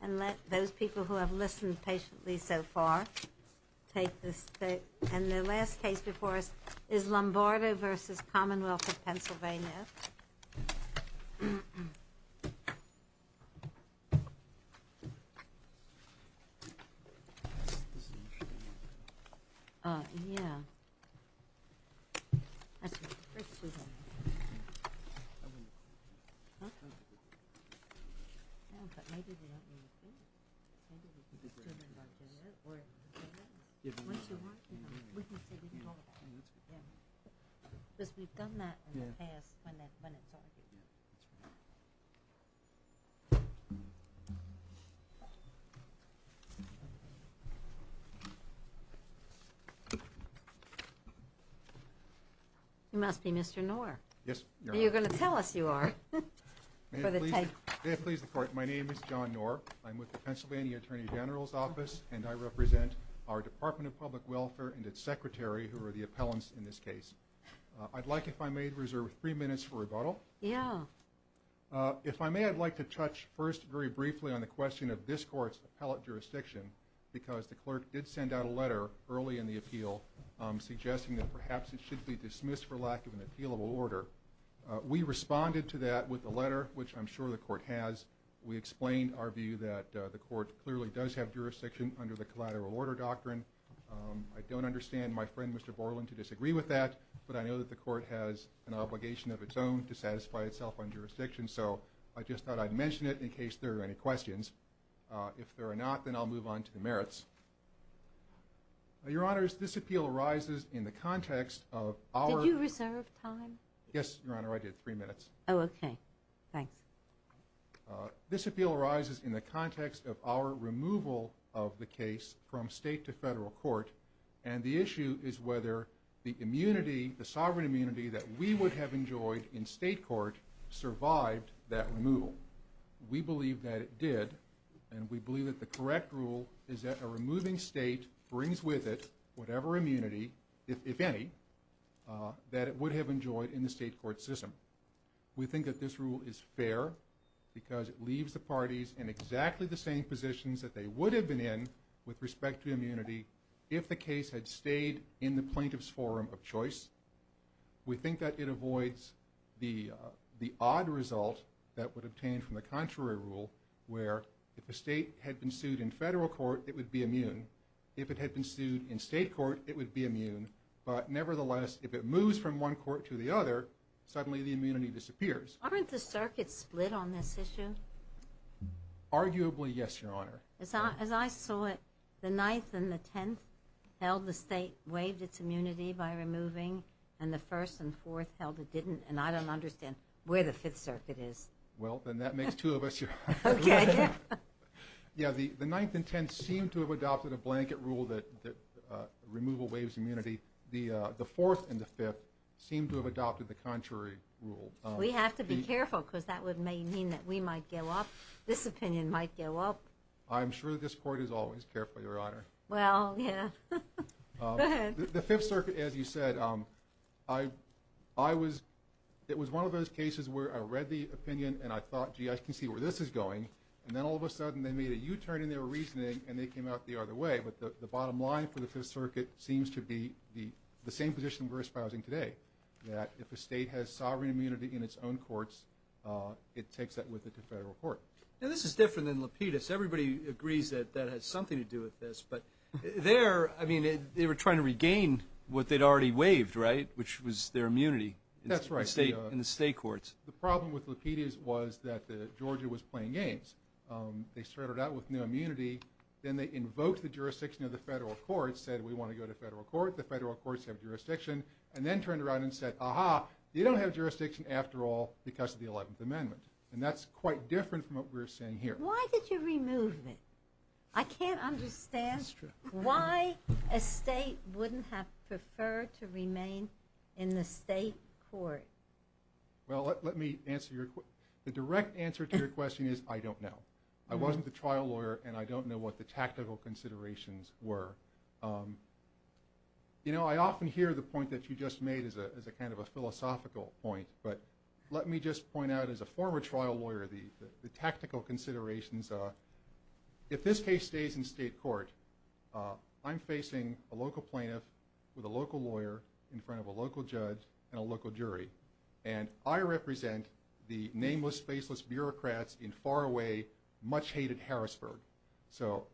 and let those people who have listened patiently so far take this and the last case before us is Lombardo v. Commonwealth of Pennsylvania You must be Mr. Knorr. Yes. You're going to tell us you are. May I please report my name is John Knorr. I'm with the Pennsylvania Attorney General's office and I represent our Department of Public Welfare and its secretary who are the appellants in this case. I'd like if I may reserve three minutes for rebuttal. Yeah. If I may I'd like to touch first very briefly on the question of this court's appellate jurisdiction because the clerk did send out a letter early in the appeal suggesting that perhaps it should be dismissed for lack of an appealable order. We responded to that with a letter which I'm sure the court has. We explained our view that the court clearly does have jurisdiction under the collateral order doctrine. I don't understand my friend Mr. Borland to disagree with that but I know that the court has an obligation of its own to satisfy itself on jurisdiction so I just thought I'd mention it in case there are any questions. If there are not then I'll move on to the merits. Your honors this appeal arises in the context of our. Did you reserve time? Yes your honor I did. Three minutes. Oh okay. Thanks. This appeal arises in the context of our removal of the case from state to federal court and the issue is whether the immunity the sovereign immunity that we would have enjoyed in state court survived that removal. We believe that it did and we believe that the correct rule is that a removing state brings with it whatever immunity if any that it would have enjoyed in the state court system. We think that this rule is fair because it leaves the parties in exactly the same positions that they would have been in with respect to immunity if the case had stayed in the plaintiff's forum of choice. We think that it avoids the odd result that would obtain from the contrary rule where if the state had been sued in federal court it would be immune. If it had been sued in state court it would be immune but nevertheless if it moves from one court to the other suddenly the immunity disappears. Aren't the circuits split on this issue? Arguably yes your honor. As I saw it the 9th and the 10th held the state waived its immunity by removing and the 1st and 4th held it didn't and I don't understand where the 5th circuit is. Well then that makes two of us your honor. Okay. Yeah the 9th and 10th seemed to have adopted a blanket rule that removal waives immunity. The 4th and the 5th seemed to have adopted the contrary rule. We have to be careful because that would mean that we might go up. This opinion might go up. I'm sure this court is always careful your honor. Well yeah. The 5th circuit as you said it was one of those cases where I read the opinion and I thought gee I can see where this is going and then all of a sudden they made a U-turn in their reasoning and they came out the other way but the bottom line for the 5th circuit seems to be the same position we're espousing today. That if a state has sovereign immunity in its own courts it takes that with it to federal court. Now this is different than Lapidus. Everybody agrees that that has something to do with this but there I mean they were trying to regain what they'd already waived right which was their immunity. That's right. In the state courts. The problem with Lapidus was that Georgia was playing games. They started out with no immunity then they invoked the jurisdiction of the federal court said we want to go to federal court. The federal courts have jurisdiction and then turned around and said aha you don't have jurisdiction after all because of the 11th amendment and that's quite different from what we're saying here. Why did you remove it? I can't understand why a state wouldn't have preferred to remain in the state court. Well let me answer your question. The direct answer to your question is I don't know. I wasn't the trial lawyer and I don't know what the tactical considerations were. You know I often hear the point that you just made as a kind of a philosophical point but let me just point out as a former trial lawyer the tactical considerations are if this case stays in state court I'm facing a local plaintiff with a local lawyer in front of a local judge and a local jury. And I represent the nameless faceless bureaucrats in far away much hated Harrisburg. So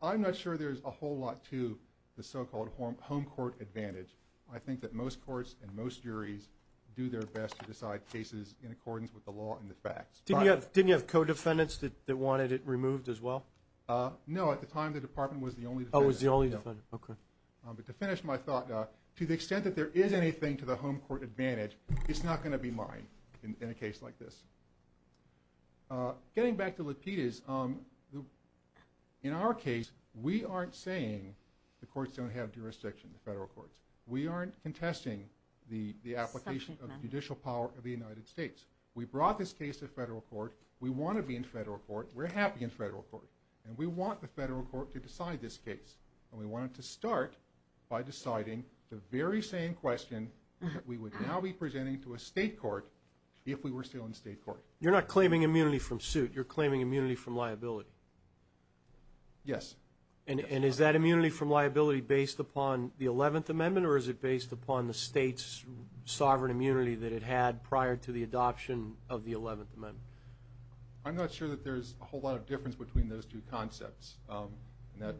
I'm not sure there's a whole lot to the so-called home court advantage. I think that most courts and most juries do their best to decide cases in accordance with the law and the facts. Didn't you have co-defendants that wanted it removed as well? No at the time the department was the only defendant. But to finish my thought to the extent that there is anything to the home court advantage it's not going to be mine in a case like this. Getting back to Lapidus, in our case we aren't saying the courts don't have jurisdiction, the federal courts. We aren't contesting the application of judicial power of the United States. We brought this case to federal court. We want to be in federal court. We're happy in federal court. And we want the federal court to decide this case. And we wanted to start by deciding the very same question that we would now be presenting to a state court if we were still in state court. You're not claiming immunity from suit. You're claiming immunity from liability. Yes. And is that immunity from liability based upon the 11th amendment or is it based upon the state's sovereign immunity that it had prior to the adoption of the 11th amendment? I'm not sure that there's a whole lot of difference between those two concepts. And that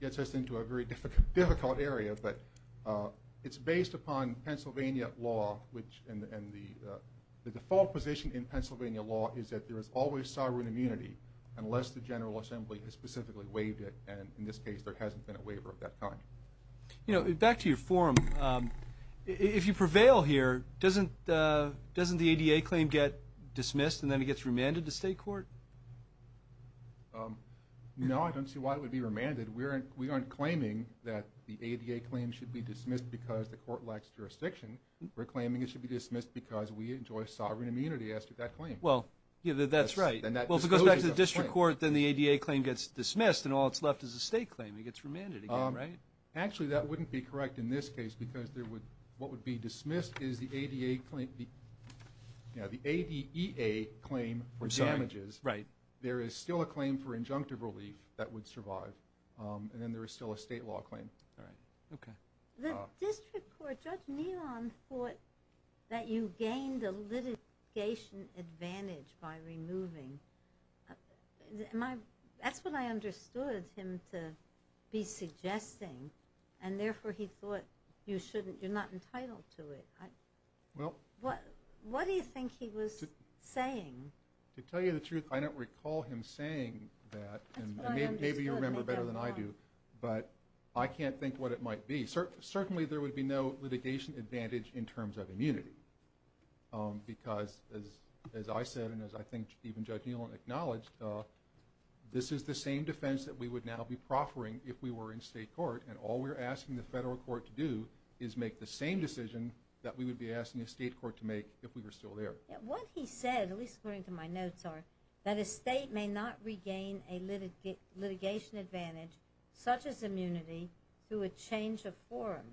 gets us into a very difficult area. But it's based upon Pennsylvania law and the default position in Pennsylvania law is that there is always sovereign immunity unless the general assembly has specifically waived it. And in this case there hasn't been a waiver of that kind. Back to your forum. If you prevail here, doesn't the ADA claim get dismissed and then it gets remanded to state court? No, I don't see why it would be remanded. We aren't claiming that the ADA claim should be dismissed because the court lacks jurisdiction. We're claiming it should be dismissed because we enjoy sovereign immunity after that claim. Well, that's right. Well, if it goes back to the district court, then the ADA claim gets dismissed and all that's left is a state claim. It gets remanded again, right? Actually, that wouldn't be correct in this case because what would be dismissed is the ADA claim for damages. There is still a claim for injunctive relief that would survive. And then there is still a state law claim. The district court, Judge Nealon thought that you gained a litigation advantage by removing. That's what I understood him to be suggesting and therefore he thought you're not entitled to it. What do you think he was saying? To tell you the truth, I don't recall him saying that and maybe you remember better than I do, but I can't think what it might be. Certainly there would be no litigation advantage in terms of immunity because as I said and as I think even Judge Nealon acknowledged, this is the same defense that we would now be proffering if we were in state court and all we're asking the federal court to do is make the same decision that we would be asking a state court to make if we were still there. What he said, at least according to my notes are, that a state may not regain a litigation advantage such as immunity through a change of forum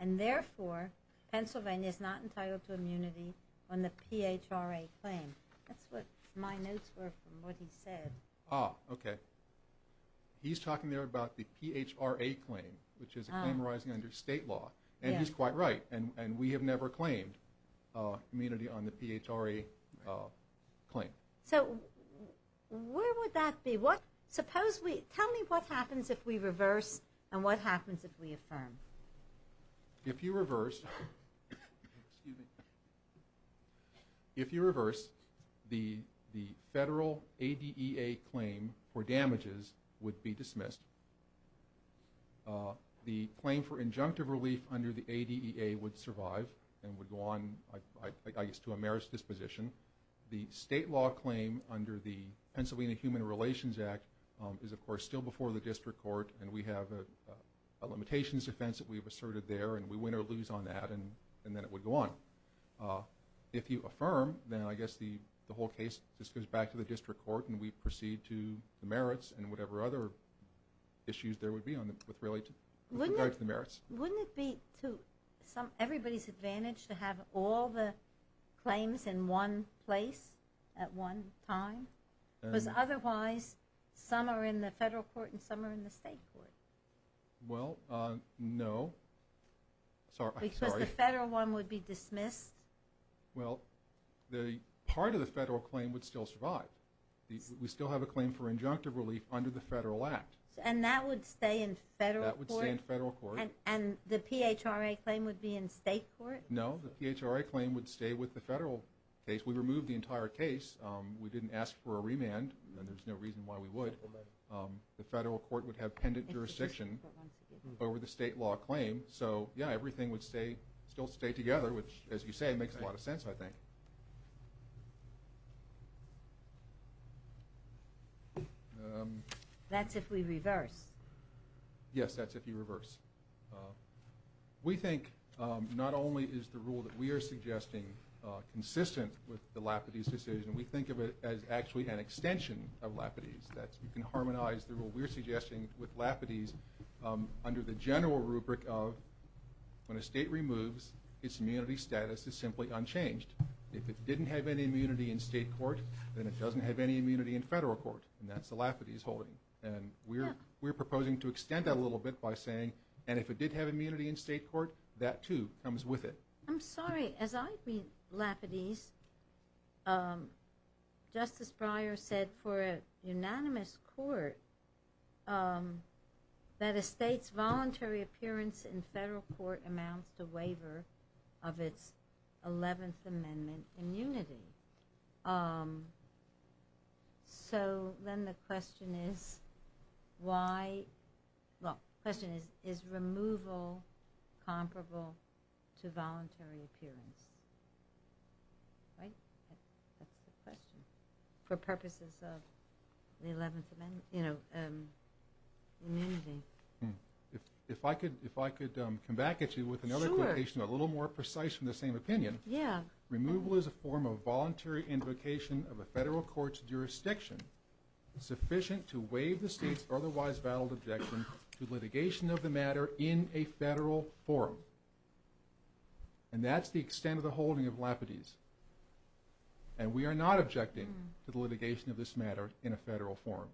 and therefore Pennsylvania is not entitled to immunity on the PHRA claim. That's what my notes were from what he said. Ah, okay. He's talking there about the PHRA claim which is a claim arising under state law and he's quite right and we have never claimed immunity on the PHRA claim. So where would that be? Tell me what happens if we reverse and what happens if we affirm? If you reverse, the federal ADEA claim for damages would be dismissed. The claim for injunctive relief under the ADEA would survive and would go on to a merits disposition. The state law claim under the Pennsylvania Human Relations Act is of course still before the district court and we have a limitations defense that we've asserted there and we win or lose on that and then it would go on. If you affirm, then I guess the whole case just goes back to the district court and we proceed to the merits and whatever other issues there would be with regard to the merits. Wouldn't it be to everybody's advantage to have all the claims in one place at one time because otherwise some are in the federal court and some are in the state court? Well, no. Sorry. Because the federal one would be dismissed? Well, part of the federal claim would still survive. We still have a claim for injunctive relief under the federal act. And that would stay in federal court? And the PHRA claim would be in state court? No, the PHRA claim would stay with the federal case. We removed the entire case. We didn't ask for a remand and there's no reason why we would. The federal court would have pendant jurisdiction over the state law claim, so yeah, everything would still stay together, which as you say, makes a lot of sense, I think. That's if we reverse? Yes, that's if you reverse. We think not only is the rule that we are suggesting consistent with the Lapidese decision, we think of it as actually an extension of Lapidese. That you can harmonize the rule we're suggesting with Lapidese under the general rubric of when a state removes, its immunity status is simply unchanged. If it didn't have any immunity in state court, then it doesn't have any immunity in federal court and that's the Lapidese holding. And we're proposing to extend that a little bit by saying, and if it did have immunity in state court, that too comes with it. I'm sorry, as I read Lapidese, Justice Breyer said for a unanimous court, that a state's voluntary appearance in federal court amounts to waiver of its 11th Amendment immunity. So then the question is, is removal comparable to voluntary appearance? Right? That's the question. For purposes of the 11th Amendment, you know, immunity. If I could come back at you with another quotation a little more precise from the same opinion. Removal is a form of voluntary invocation of a federal court's jurisdiction sufficient to waive the state's otherwise valid objection to litigation of the matter in a federal forum. And that's the extent of the holding of Lapidese. And we are not objecting to the litigation of this matter in a federal forum.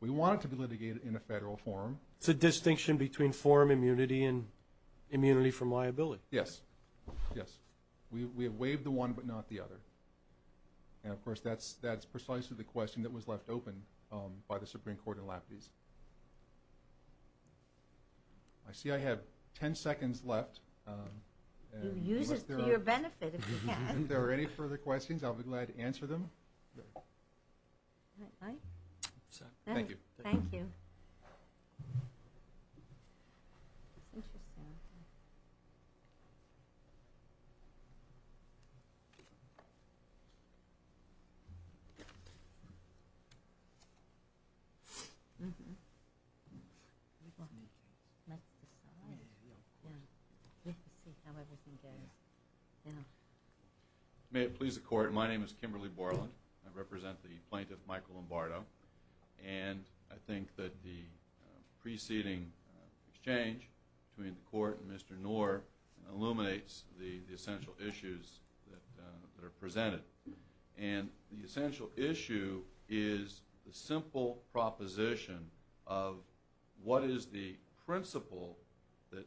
We want it to be litigated in a federal forum. It's a distinction between forum immunity and immunity from liability. Yes. Yes. We have waived the one but not the other. And of course that's precisely the question that was left open by the Supreme Court in Lapidese. I see I have 10 seconds left. You use it to your benefit if you can. If there are any further questions, I'll be glad to answer them. All right. Thank you. Thank you. Interesting. May it please the Court, my name is Kimberly Borland. I represent the plaintiff Michael Lombardo. And I think that the preceding exchange between the Court and Mr. Knorr illuminates the essential issues that are presented. And the essential issue is the simple proposition of what is the principle that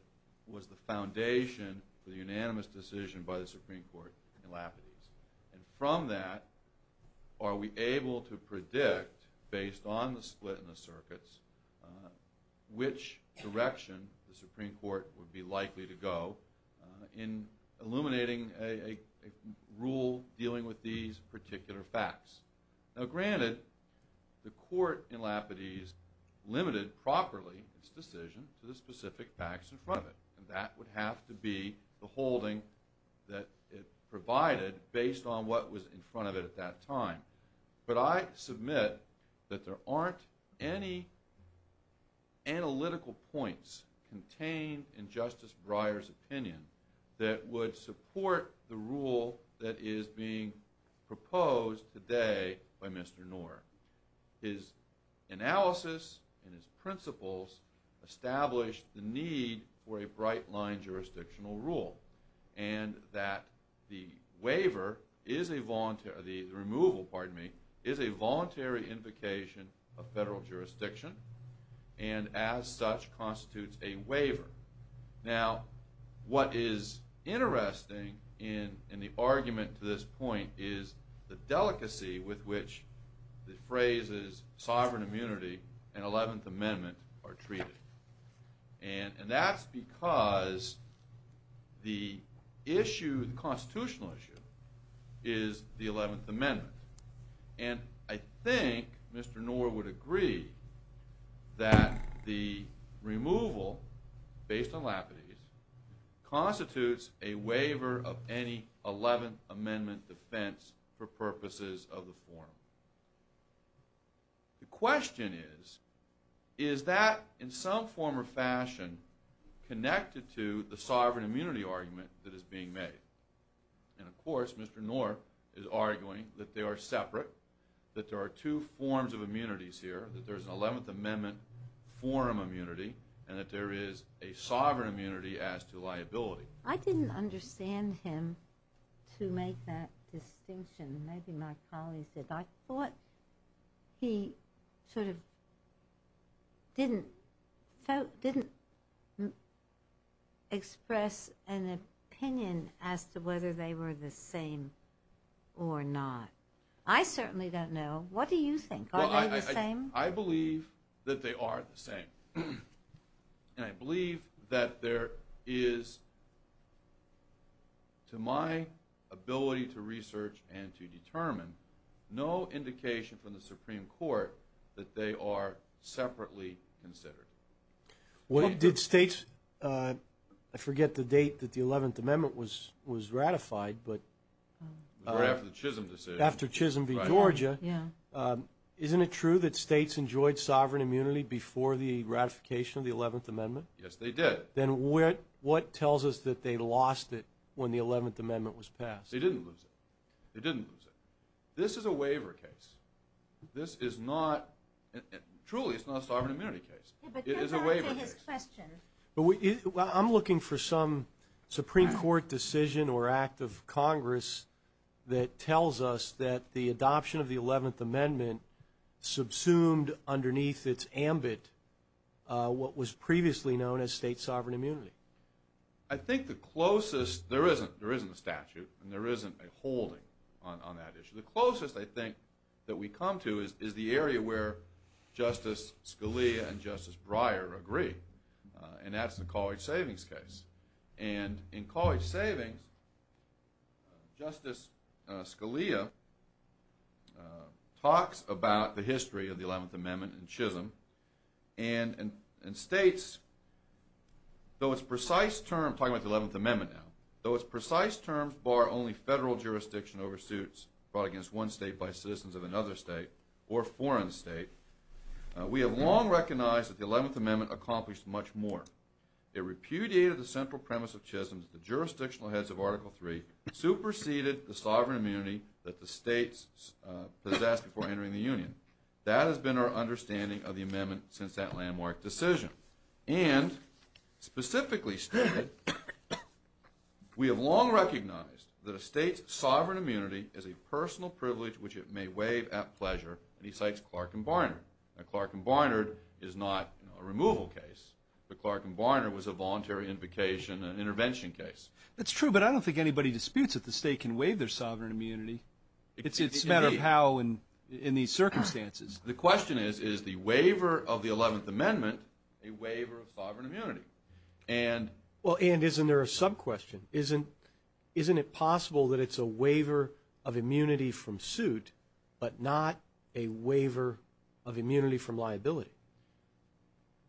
was the foundation for the unanimous decision by the Supreme Court in Lapidese. And from that, are we able to predict, based on the split in the circuits, which direction the Supreme Court would be likely to go in illuminating a rule dealing with these particular facts. Now granted, the Court in Lapidese limited properly its decision to the specific facts in front of it. And that would have to be the holding that it provided based on what was in front of it at that time. But I submit that there aren't any analytical points contained in Justice Breyer's opinion that would support the rule that is being proposed today by Mr. Knorr. His analysis and his principles established the need for a bright line jurisdictional rule. And that the waiver is a voluntary, the removal, pardon me, is a voluntary invocation of federal jurisdiction. And as such constitutes a waiver. Now what is interesting in the argument to this point is the delicacy with which the phrases sovereign immunity and 11th Amendment are treated. And that's because the issue, the constitutional issue, is the 11th Amendment. And I think Mr. Knorr would agree that the removal, based on Lapidese, constitutes a waiver of any 11th Amendment defense for purposes of the forum. The question is, is that in some form or fashion connected to the sovereign immunity argument that is being made? And of course Mr. Knorr is arguing that they are separate, that there are two forms of immunities here, that there is an 11th Amendment forum immunity and that there is a sovereign immunity as to liability. I didn't understand him to make that distinction. Maybe my colleagues did. I thought he sort of didn't express an opinion as to whether they were the same or not. I certainly don't know. What do you think? Are they the same? I believe that they are the same. And I believe that there is, to my ability to research and to determine, no indication from the Supreme Court that they are separately considered. I forget the date that the 11th Amendment was ratified. It was right after the Chisholm decision. After Chisholm v. Georgia. Isn't it true that states enjoyed sovereign immunity before the ratification of the 11th Amendment? Yes, they did. Then what tells us that they lost it when the 11th Amendment was passed? They didn't lose it. They didn't lose it. This is a waiver case. Truly, it's not a sovereign immunity case. It is a waiver case. I'm looking for some Supreme Court decision or act of Congress that tells us that the adoption of the 11th Amendment subsumed underneath its ambit what was previously known as state sovereign immunity. I think the closest, there isn't a statute and there isn't a holding on that issue. The closest I think that we come to is the area where Justice Scalia and Justice Breyer agree. And that's the College Savings case. And in College Savings, Justice Scalia talks about the history of the 11th Amendment in Chisholm and states, though its precise terms, I'm talking about the 11th Amendment now, though its precise terms bar only federal jurisdiction over suits brought against one state by citizens of another state or foreign state, we have long recognized that the 11th Amendment accomplished much more. It repudiated the central premise of Chisholm that the jurisdictional heads of Article III superseded the sovereign immunity that the states possessed before entering the Union. That has been our understanding of the Amendment since that landmark decision. And specifically stated, we have long recognized that a state's sovereign immunity is a personal privilege which it may waive at pleasure, and he cites Clark and Barnard. Now Clark and Barnard is not a removal case, but Clark and Barnard was a voluntary invocation and intervention case. That's true, but I don't think anybody disputes that the state can waive their sovereign immunity. It's a matter of how in these circumstances. The question is, is the waiver of the 11th Amendment a waiver of sovereign immunity? And isn't there a sub-question? Isn't it possible that it's a waiver of immunity from suit, but not a waiver of immunity from liability?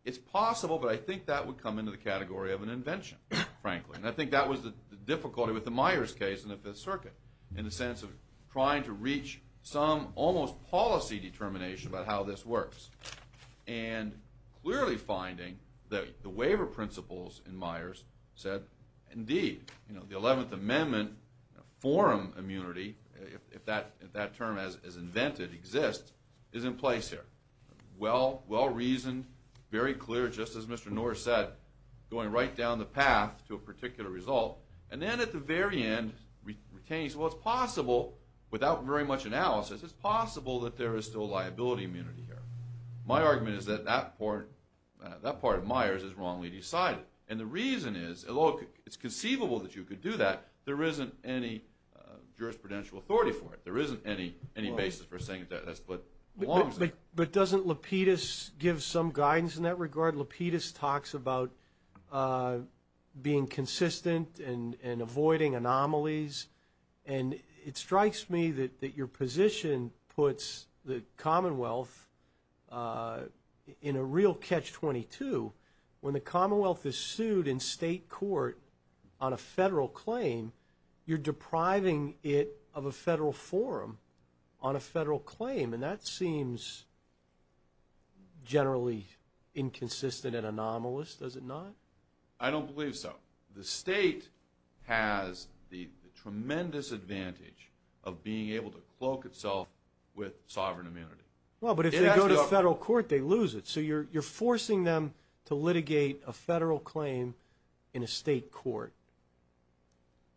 It's possible, but I think that would come into the category of an invention, frankly. And I think that was the difficulty with the Myers case in the Fifth Circuit, in the sense of trying to reach some almost policy determination about how this works. And clearly finding that the waiver principles in Myers said, indeed, the 11th Amendment forum immunity, if that term is invented, exists, is in place here. Well-reasoned, very clear, just as Mr. Norris said, going right down the path to a particular result. And then at the very end, it's possible, without very much analysis, it's possible that there is still liability immunity here. My argument is that that part of Myers is wrongly decided. And the reason is, although it's conceivable that you could do that, there isn't any jurisprudential authority for it. There isn't any basis for saying that that's what belongs there. But doesn't Lapidus give some guidance in that regard? Lapidus talks about being consistent and avoiding anomalies. And it strikes me that your position puts the Commonwealth in a real catch-22. When the Commonwealth is sued in state court on a federal claim, you're depriving it of a federal forum on a federal claim. And that seems generally inconsistent and anomalous, does it not? I don't believe so. The state has the tremendous advantage of being able to cloak itself with sovereign immunity. Well, but if they go to federal court, they lose it. So you're forcing them to litigate a federal claim in a state court.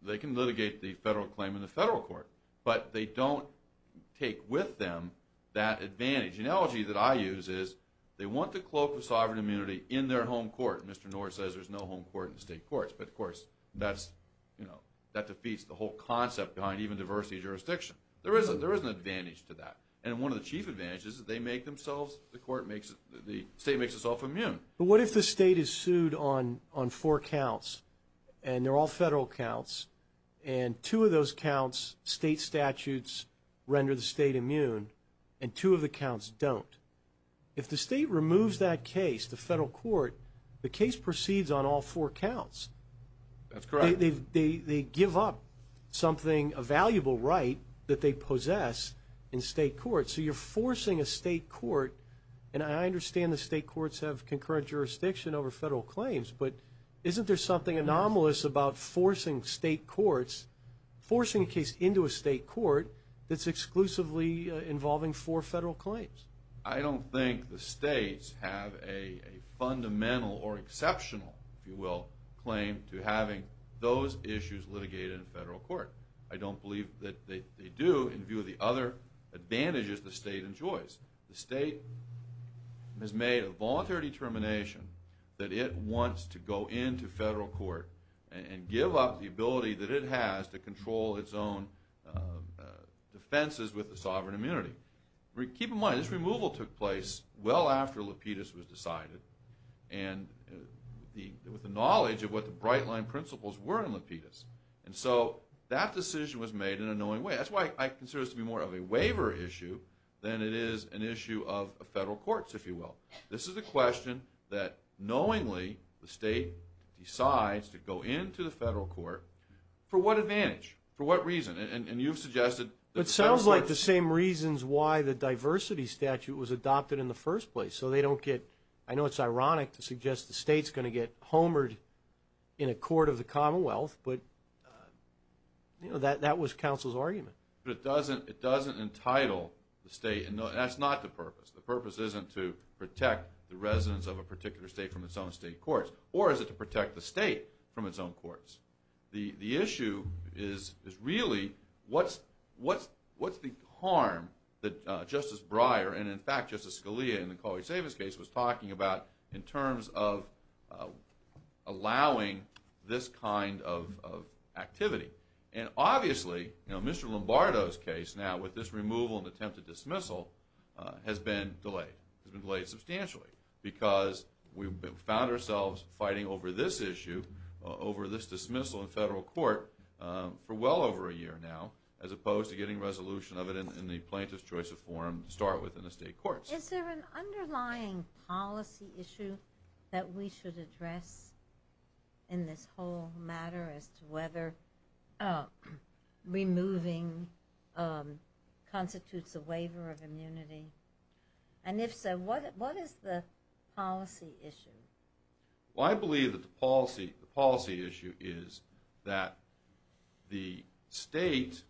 They can litigate the federal claim in the federal court, but they don't take with them that advantage. The analogy that I use is they want to cloak with sovereign immunity in their home court. Mr. Norris says there's no home court in state courts. But, of course, that defeats the whole concept behind even diversity of jurisdiction. There is an advantage to that. And one of the chief advantages is they make themselves, the state makes itself immune. But what if the state is sued on four counts, and they're all federal counts, and two of those counts' state statutes render the state immune, and two of the counts don't? If the state removes that case to federal court, the case proceeds on all four counts. That's correct. They give up something, a valuable right that they possess in state court. So you're forcing a state court, and I understand the state courts have concurrent jurisdiction over federal claims, but isn't there something anomalous about forcing state courts, forcing a case into a state court, that's exclusively involving four federal claims? I don't think the states have a fundamental or exceptional, if you will, claim to having those issues litigated in federal court. I don't believe that they do in view of the other advantages the state enjoys. The state has made a voluntary determination that it wants to go into federal court and give up the ability that it has to control its own defenses with the sovereign immunity. Keep in mind, this removal took place well after Lapidus was decided, and with the knowledge of what the bright-line principles were in Lapidus. And so that decision was made in a knowing way. That's why I consider this to be more of a waiver issue than it is an issue of federal courts, if you will. This is a question that, knowingly, the state decides to go into the federal court. For what advantage? For what reason? And you've suggested that the federal courts It sounds like the same reasons why the diversity statute was adopted in the first place. So they don't get, I know it's ironic to suggest the state's going to get homered in a court of the Commonwealth, but, you know, that was counsel's argument. But it doesn't entitle the state, and that's not the purpose. The purpose isn't to protect the residents of a particular state from its own state courts, or is it to protect the state from its own courts? The issue is really, what's the harm that Justice Breyer, and in fact, Justice Scalia, in the Coleridge-Davis case, was talking about in terms of allowing this kind of activity. And obviously, you know, Mr. Lombardo's case now, with this removal and attempted dismissal, has been delayed. It's been delayed substantially, because we've found ourselves fighting over this issue, over this dismissal in federal court, for well over a year now, as opposed to getting resolution of it in the plaintiff's choice of forum to start with in the state courts. Is there an underlying policy issue that we should address in this whole matter as to whether removing constitutes a waiver of immunity? And if so, what is the policy issue? Well, I believe that the policy issue is that the state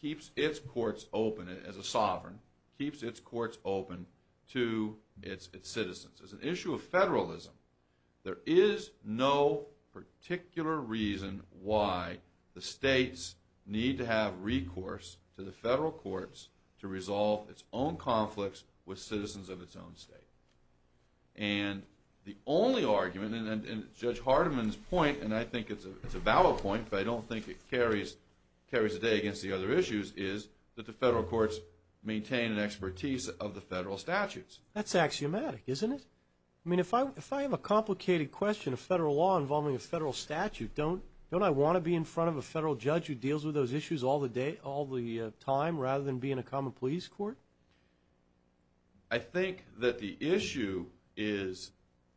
keeps its courts open as a sovereign, keeps its courts open to its citizens. As an issue of federalism, there is no particular reason why the states need to have recourse to the federal courts to resolve its own conflicts with citizens of its own state. And the only argument, and Judge Hardiman's point, and I think it's a valid point, but I don't think it carries the day against the other issues, is that the federal courts maintain an expertise of the federal statutes. That's axiomatic, isn't it? I mean, if I have a complicated question of federal law involving a federal statute, don't I want to be in front of a federal judge who deals with those issues all the time, rather than be in a common pleas court? I think that the issue is,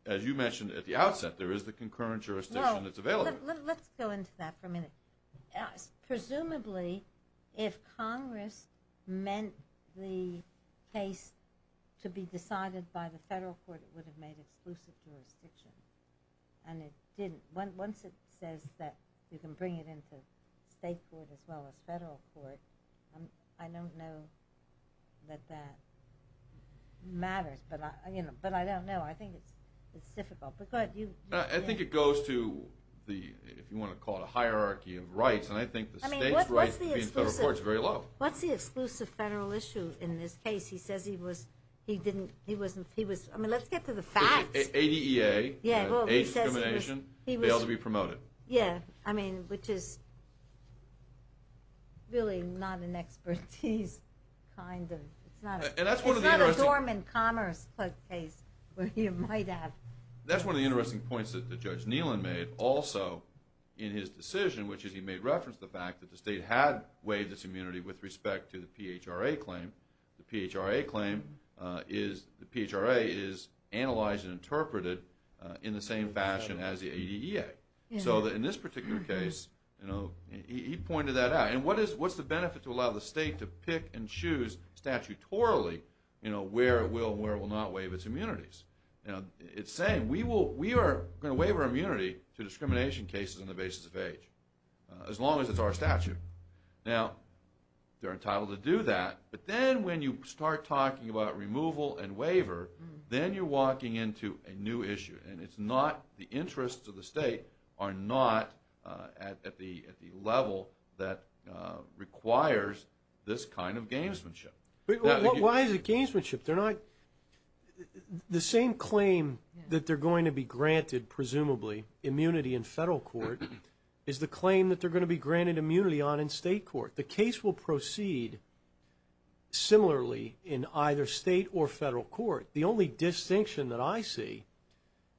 as you mentioned at the outset, there is the concurrent jurisdiction that's available. Let's go into that for a minute. Presumably, if Congress meant the case to be decided by the federal court, it would have made exclusive jurisdiction, and it didn't. Once it says that you can bring it into state court as well as federal court, I don't know that that matters, but I don't know. I think it's difficult. I think it goes to the, if you want to call it a hierarchy of rights, and I think the state's rights to be in federal court is very low. What's the exclusive federal issue in this case? He says he was – I mean, let's get to the facts. ADEA, age discrimination, failed to be promoted. Yeah, I mean, which is really not an expertise, kind of. It's not a dormant commerce case. That's one of the interesting points that Judge Neelan made also in his decision, which is he made reference to the fact that the state had waived its immunity with respect to the PHRA claim. The PHRA claim is – the PHRA is analyzed and interpreted in the same fashion as the ADEA. So in this particular case, he pointed that out. And what's the benefit to allow the state to pick and choose statutorily where it will and where it will not waive its immunities? It's saying we are going to waive our immunity to discrimination cases on the basis of age, as long as it's our statute. Now, they're entitled to do that, but then when you start talking about removal and waiver, then you're walking into a new issue, and it's not – the interests of the state are not at the level that requires this kind of gamesmanship. Why is it gamesmanship? They're not – the same claim that they're going to be granted, presumably, immunity in federal court is the claim that they're going to be granted immunity on in state court. The case will proceed similarly in either state or federal court. The only distinction that I see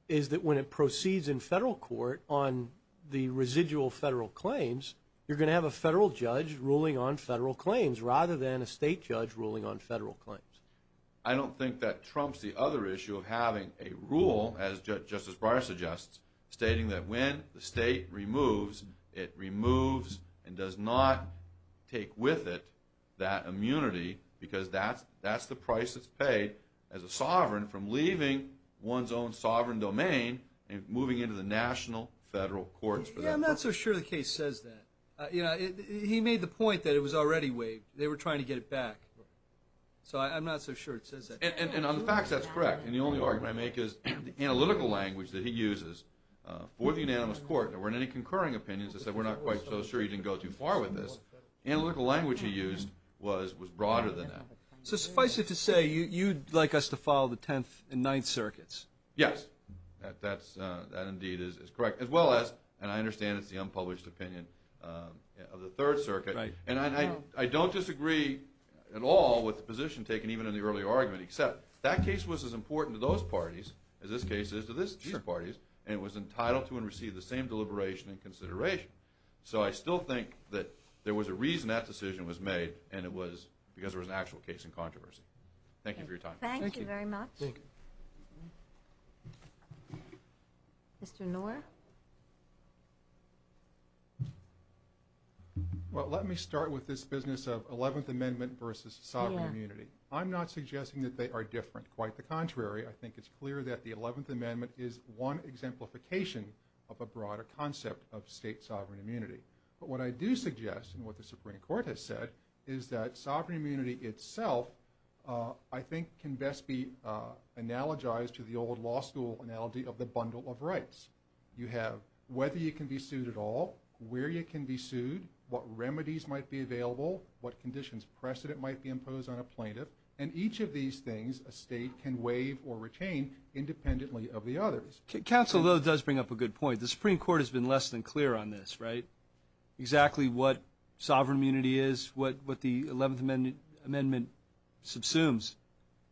is that when it proceeds in federal court on the residual federal claims, you're going to have a federal judge ruling on federal claims rather than a state judge ruling on federal claims. I don't think that trumps the other issue of having a rule, as Justice Breyer suggests, stating that when the state removes, it removes and does not take with it that immunity because that's the price it's paid as a sovereign from leaving one's own sovereign domain and moving into the national federal courts. Yeah, I'm not so sure the case says that. He made the point that it was already waived. They were trying to get it back. So I'm not so sure it says that. And on the facts, that's correct. And the only argument I make is the analytical language that he uses for the unanimous court. There weren't any concurring opinions that said we're not quite so sure he didn't go too far with this. Analytical language he used was broader than that. So suffice it to say, you'd like us to follow the Tenth and Ninth Circuits. Yes, that indeed is correct, as well as, and I understand it's the unpublished opinion of the Third Circuit. And I don't disagree at all with the position taken even in the earlier argument, except that case was as important to those parties as this case is to these parties, and it was entitled to and received the same deliberation and consideration. So I still think that there was a reason that decision was made, and it was because there was an actual case in controversy. Thank you for your time. Thank you very much. Mr. Knorr? Well, let me start with this business of Eleventh Amendment versus sovereign immunity. I'm not suggesting that they are different. Quite the contrary. I think it's clear that the Eleventh Amendment is one exemplification of a broader concept of state sovereign immunity. But what I do suggest, and what the Supreme Court has said, is that sovereign immunity itself, I think, can best be analogized to the old law school analogy of the bundle of rights. You have whether you can be sued at all, where you can be sued, what remedies might be available, what conditions of precedent might be imposed on a plaintiff, and each of these things a state can waive or retain independently of the others. Counsel, that does bring up a good point. The Supreme Court has been less than clear on this, right? Exactly what sovereign immunity is, what the Eleventh Amendment subsumes.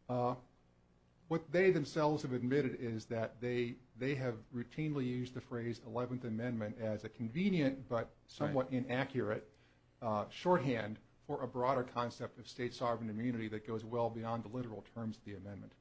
What they themselves have admitted is that they have routinely used the phrase Eleventh Amendment as a convenient but somewhat inaccurate shorthand for a broader concept of state sovereign immunity that goes well beyond the literal terms of the amendment.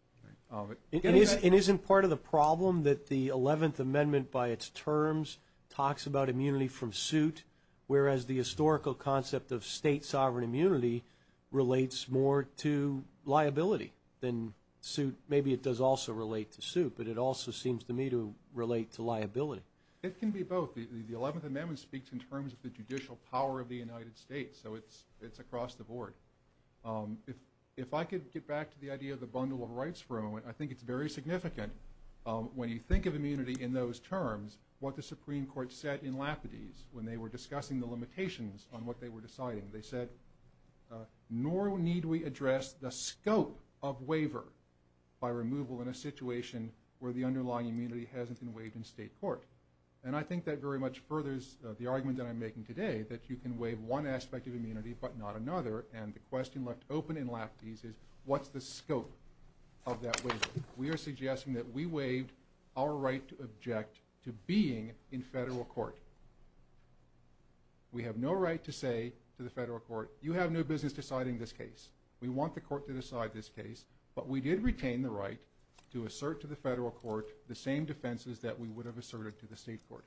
It isn't part of the problem that the Eleventh Amendment by its terms talks about immunity from suit, whereas the historical concept of state sovereign immunity relates more to liability than suit. Maybe it does also relate to suit, but it also seems to me to relate to liability. It can be both. The Eleventh Amendment speaks in terms of the judicial power of the United States, so it's across the board. If I could get back to the idea of the bundle of rights for a moment, I think it's very significant when you think of immunity in those terms, what the Supreme Court said in Lapidus when they were discussing the limitations on what they were deciding. They said, nor need we address the scope of waiver by removal in a situation where the underlying immunity hasn't been waived in state court. And I think that very much furthers the argument that I'm making today, that you can waive one aspect of immunity but not another, and the question left open in Lapidus is, what's the scope of that waiver? We are suggesting that we waive our right to object to being in federal court. We have no right to say to the federal court, you have no business deciding this case. We want the court to decide this case, but we did retain the right to assert to the federal court the same defenses that we would have asserted to the state court.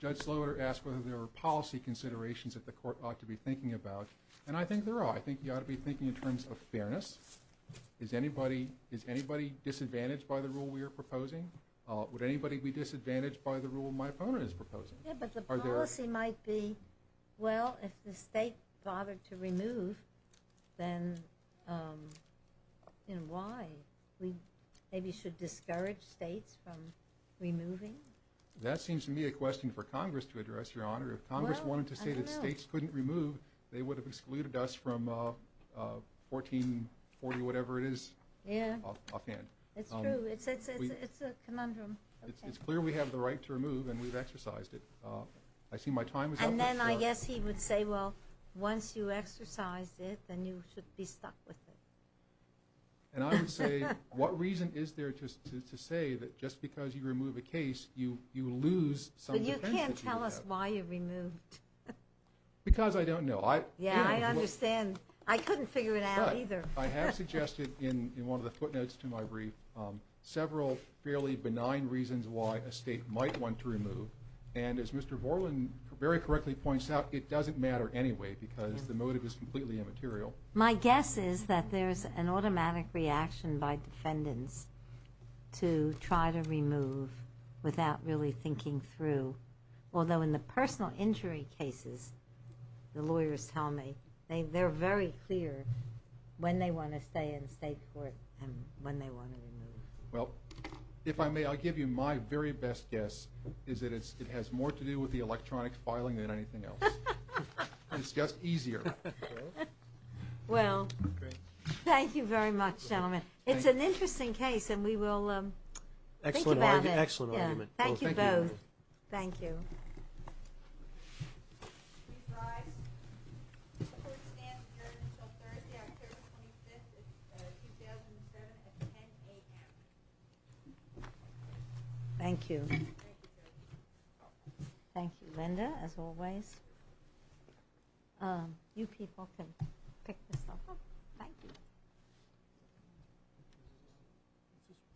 Judge Sloater asked whether there were policy considerations that the court ought to be thinking about, and I think there are. I think you ought to be thinking in terms of fairness. Is anybody disadvantaged by the rule we are proposing? Would anybody be disadvantaged by the rule my opponent is proposing? Yeah, but the policy might be, well, if the state bothered to remove, then why? We maybe should discourage states from removing? That seems to me a question for Congress to address, Your Honor. If Congress wanted to say that states couldn't remove, they would have excluded us from 1440, whatever it is, offhand. It's true. It's a conundrum. It's clear we have the right to remove, and we've exercised it. I see my time is up. And then I guess he would say, well, once you exercise it, then you should be stuck with it. And I would say, what reason is there to say that just because you remove a case, you lose some defense that you have? But you can't tell us why you removed. Because I don't know. Yeah, I understand. I couldn't figure it out either. But I have suggested in one of the footnotes to my brief several fairly benign reasons why a state might want to remove, and as Mr. Vorlin very correctly points out, it doesn't matter anyway because the motive is completely immaterial. My guess is that there's an automatic reaction by defendants to try to remove without really thinking through, although in the personal injury cases, the lawyers tell me, they're very clear when they want to stay in state court and when they want to remove. Well, if I may, I'll give you my very best guess, is that it has more to do with the electronic filing than anything else. It's just easier. Well, thank you very much, gentlemen. It's an interesting case, and we will think about it. Excellent argument. Thank you both. Thank you. Thank you. Thank you, Linda, as always. You people can pick the stuff up. Thank you.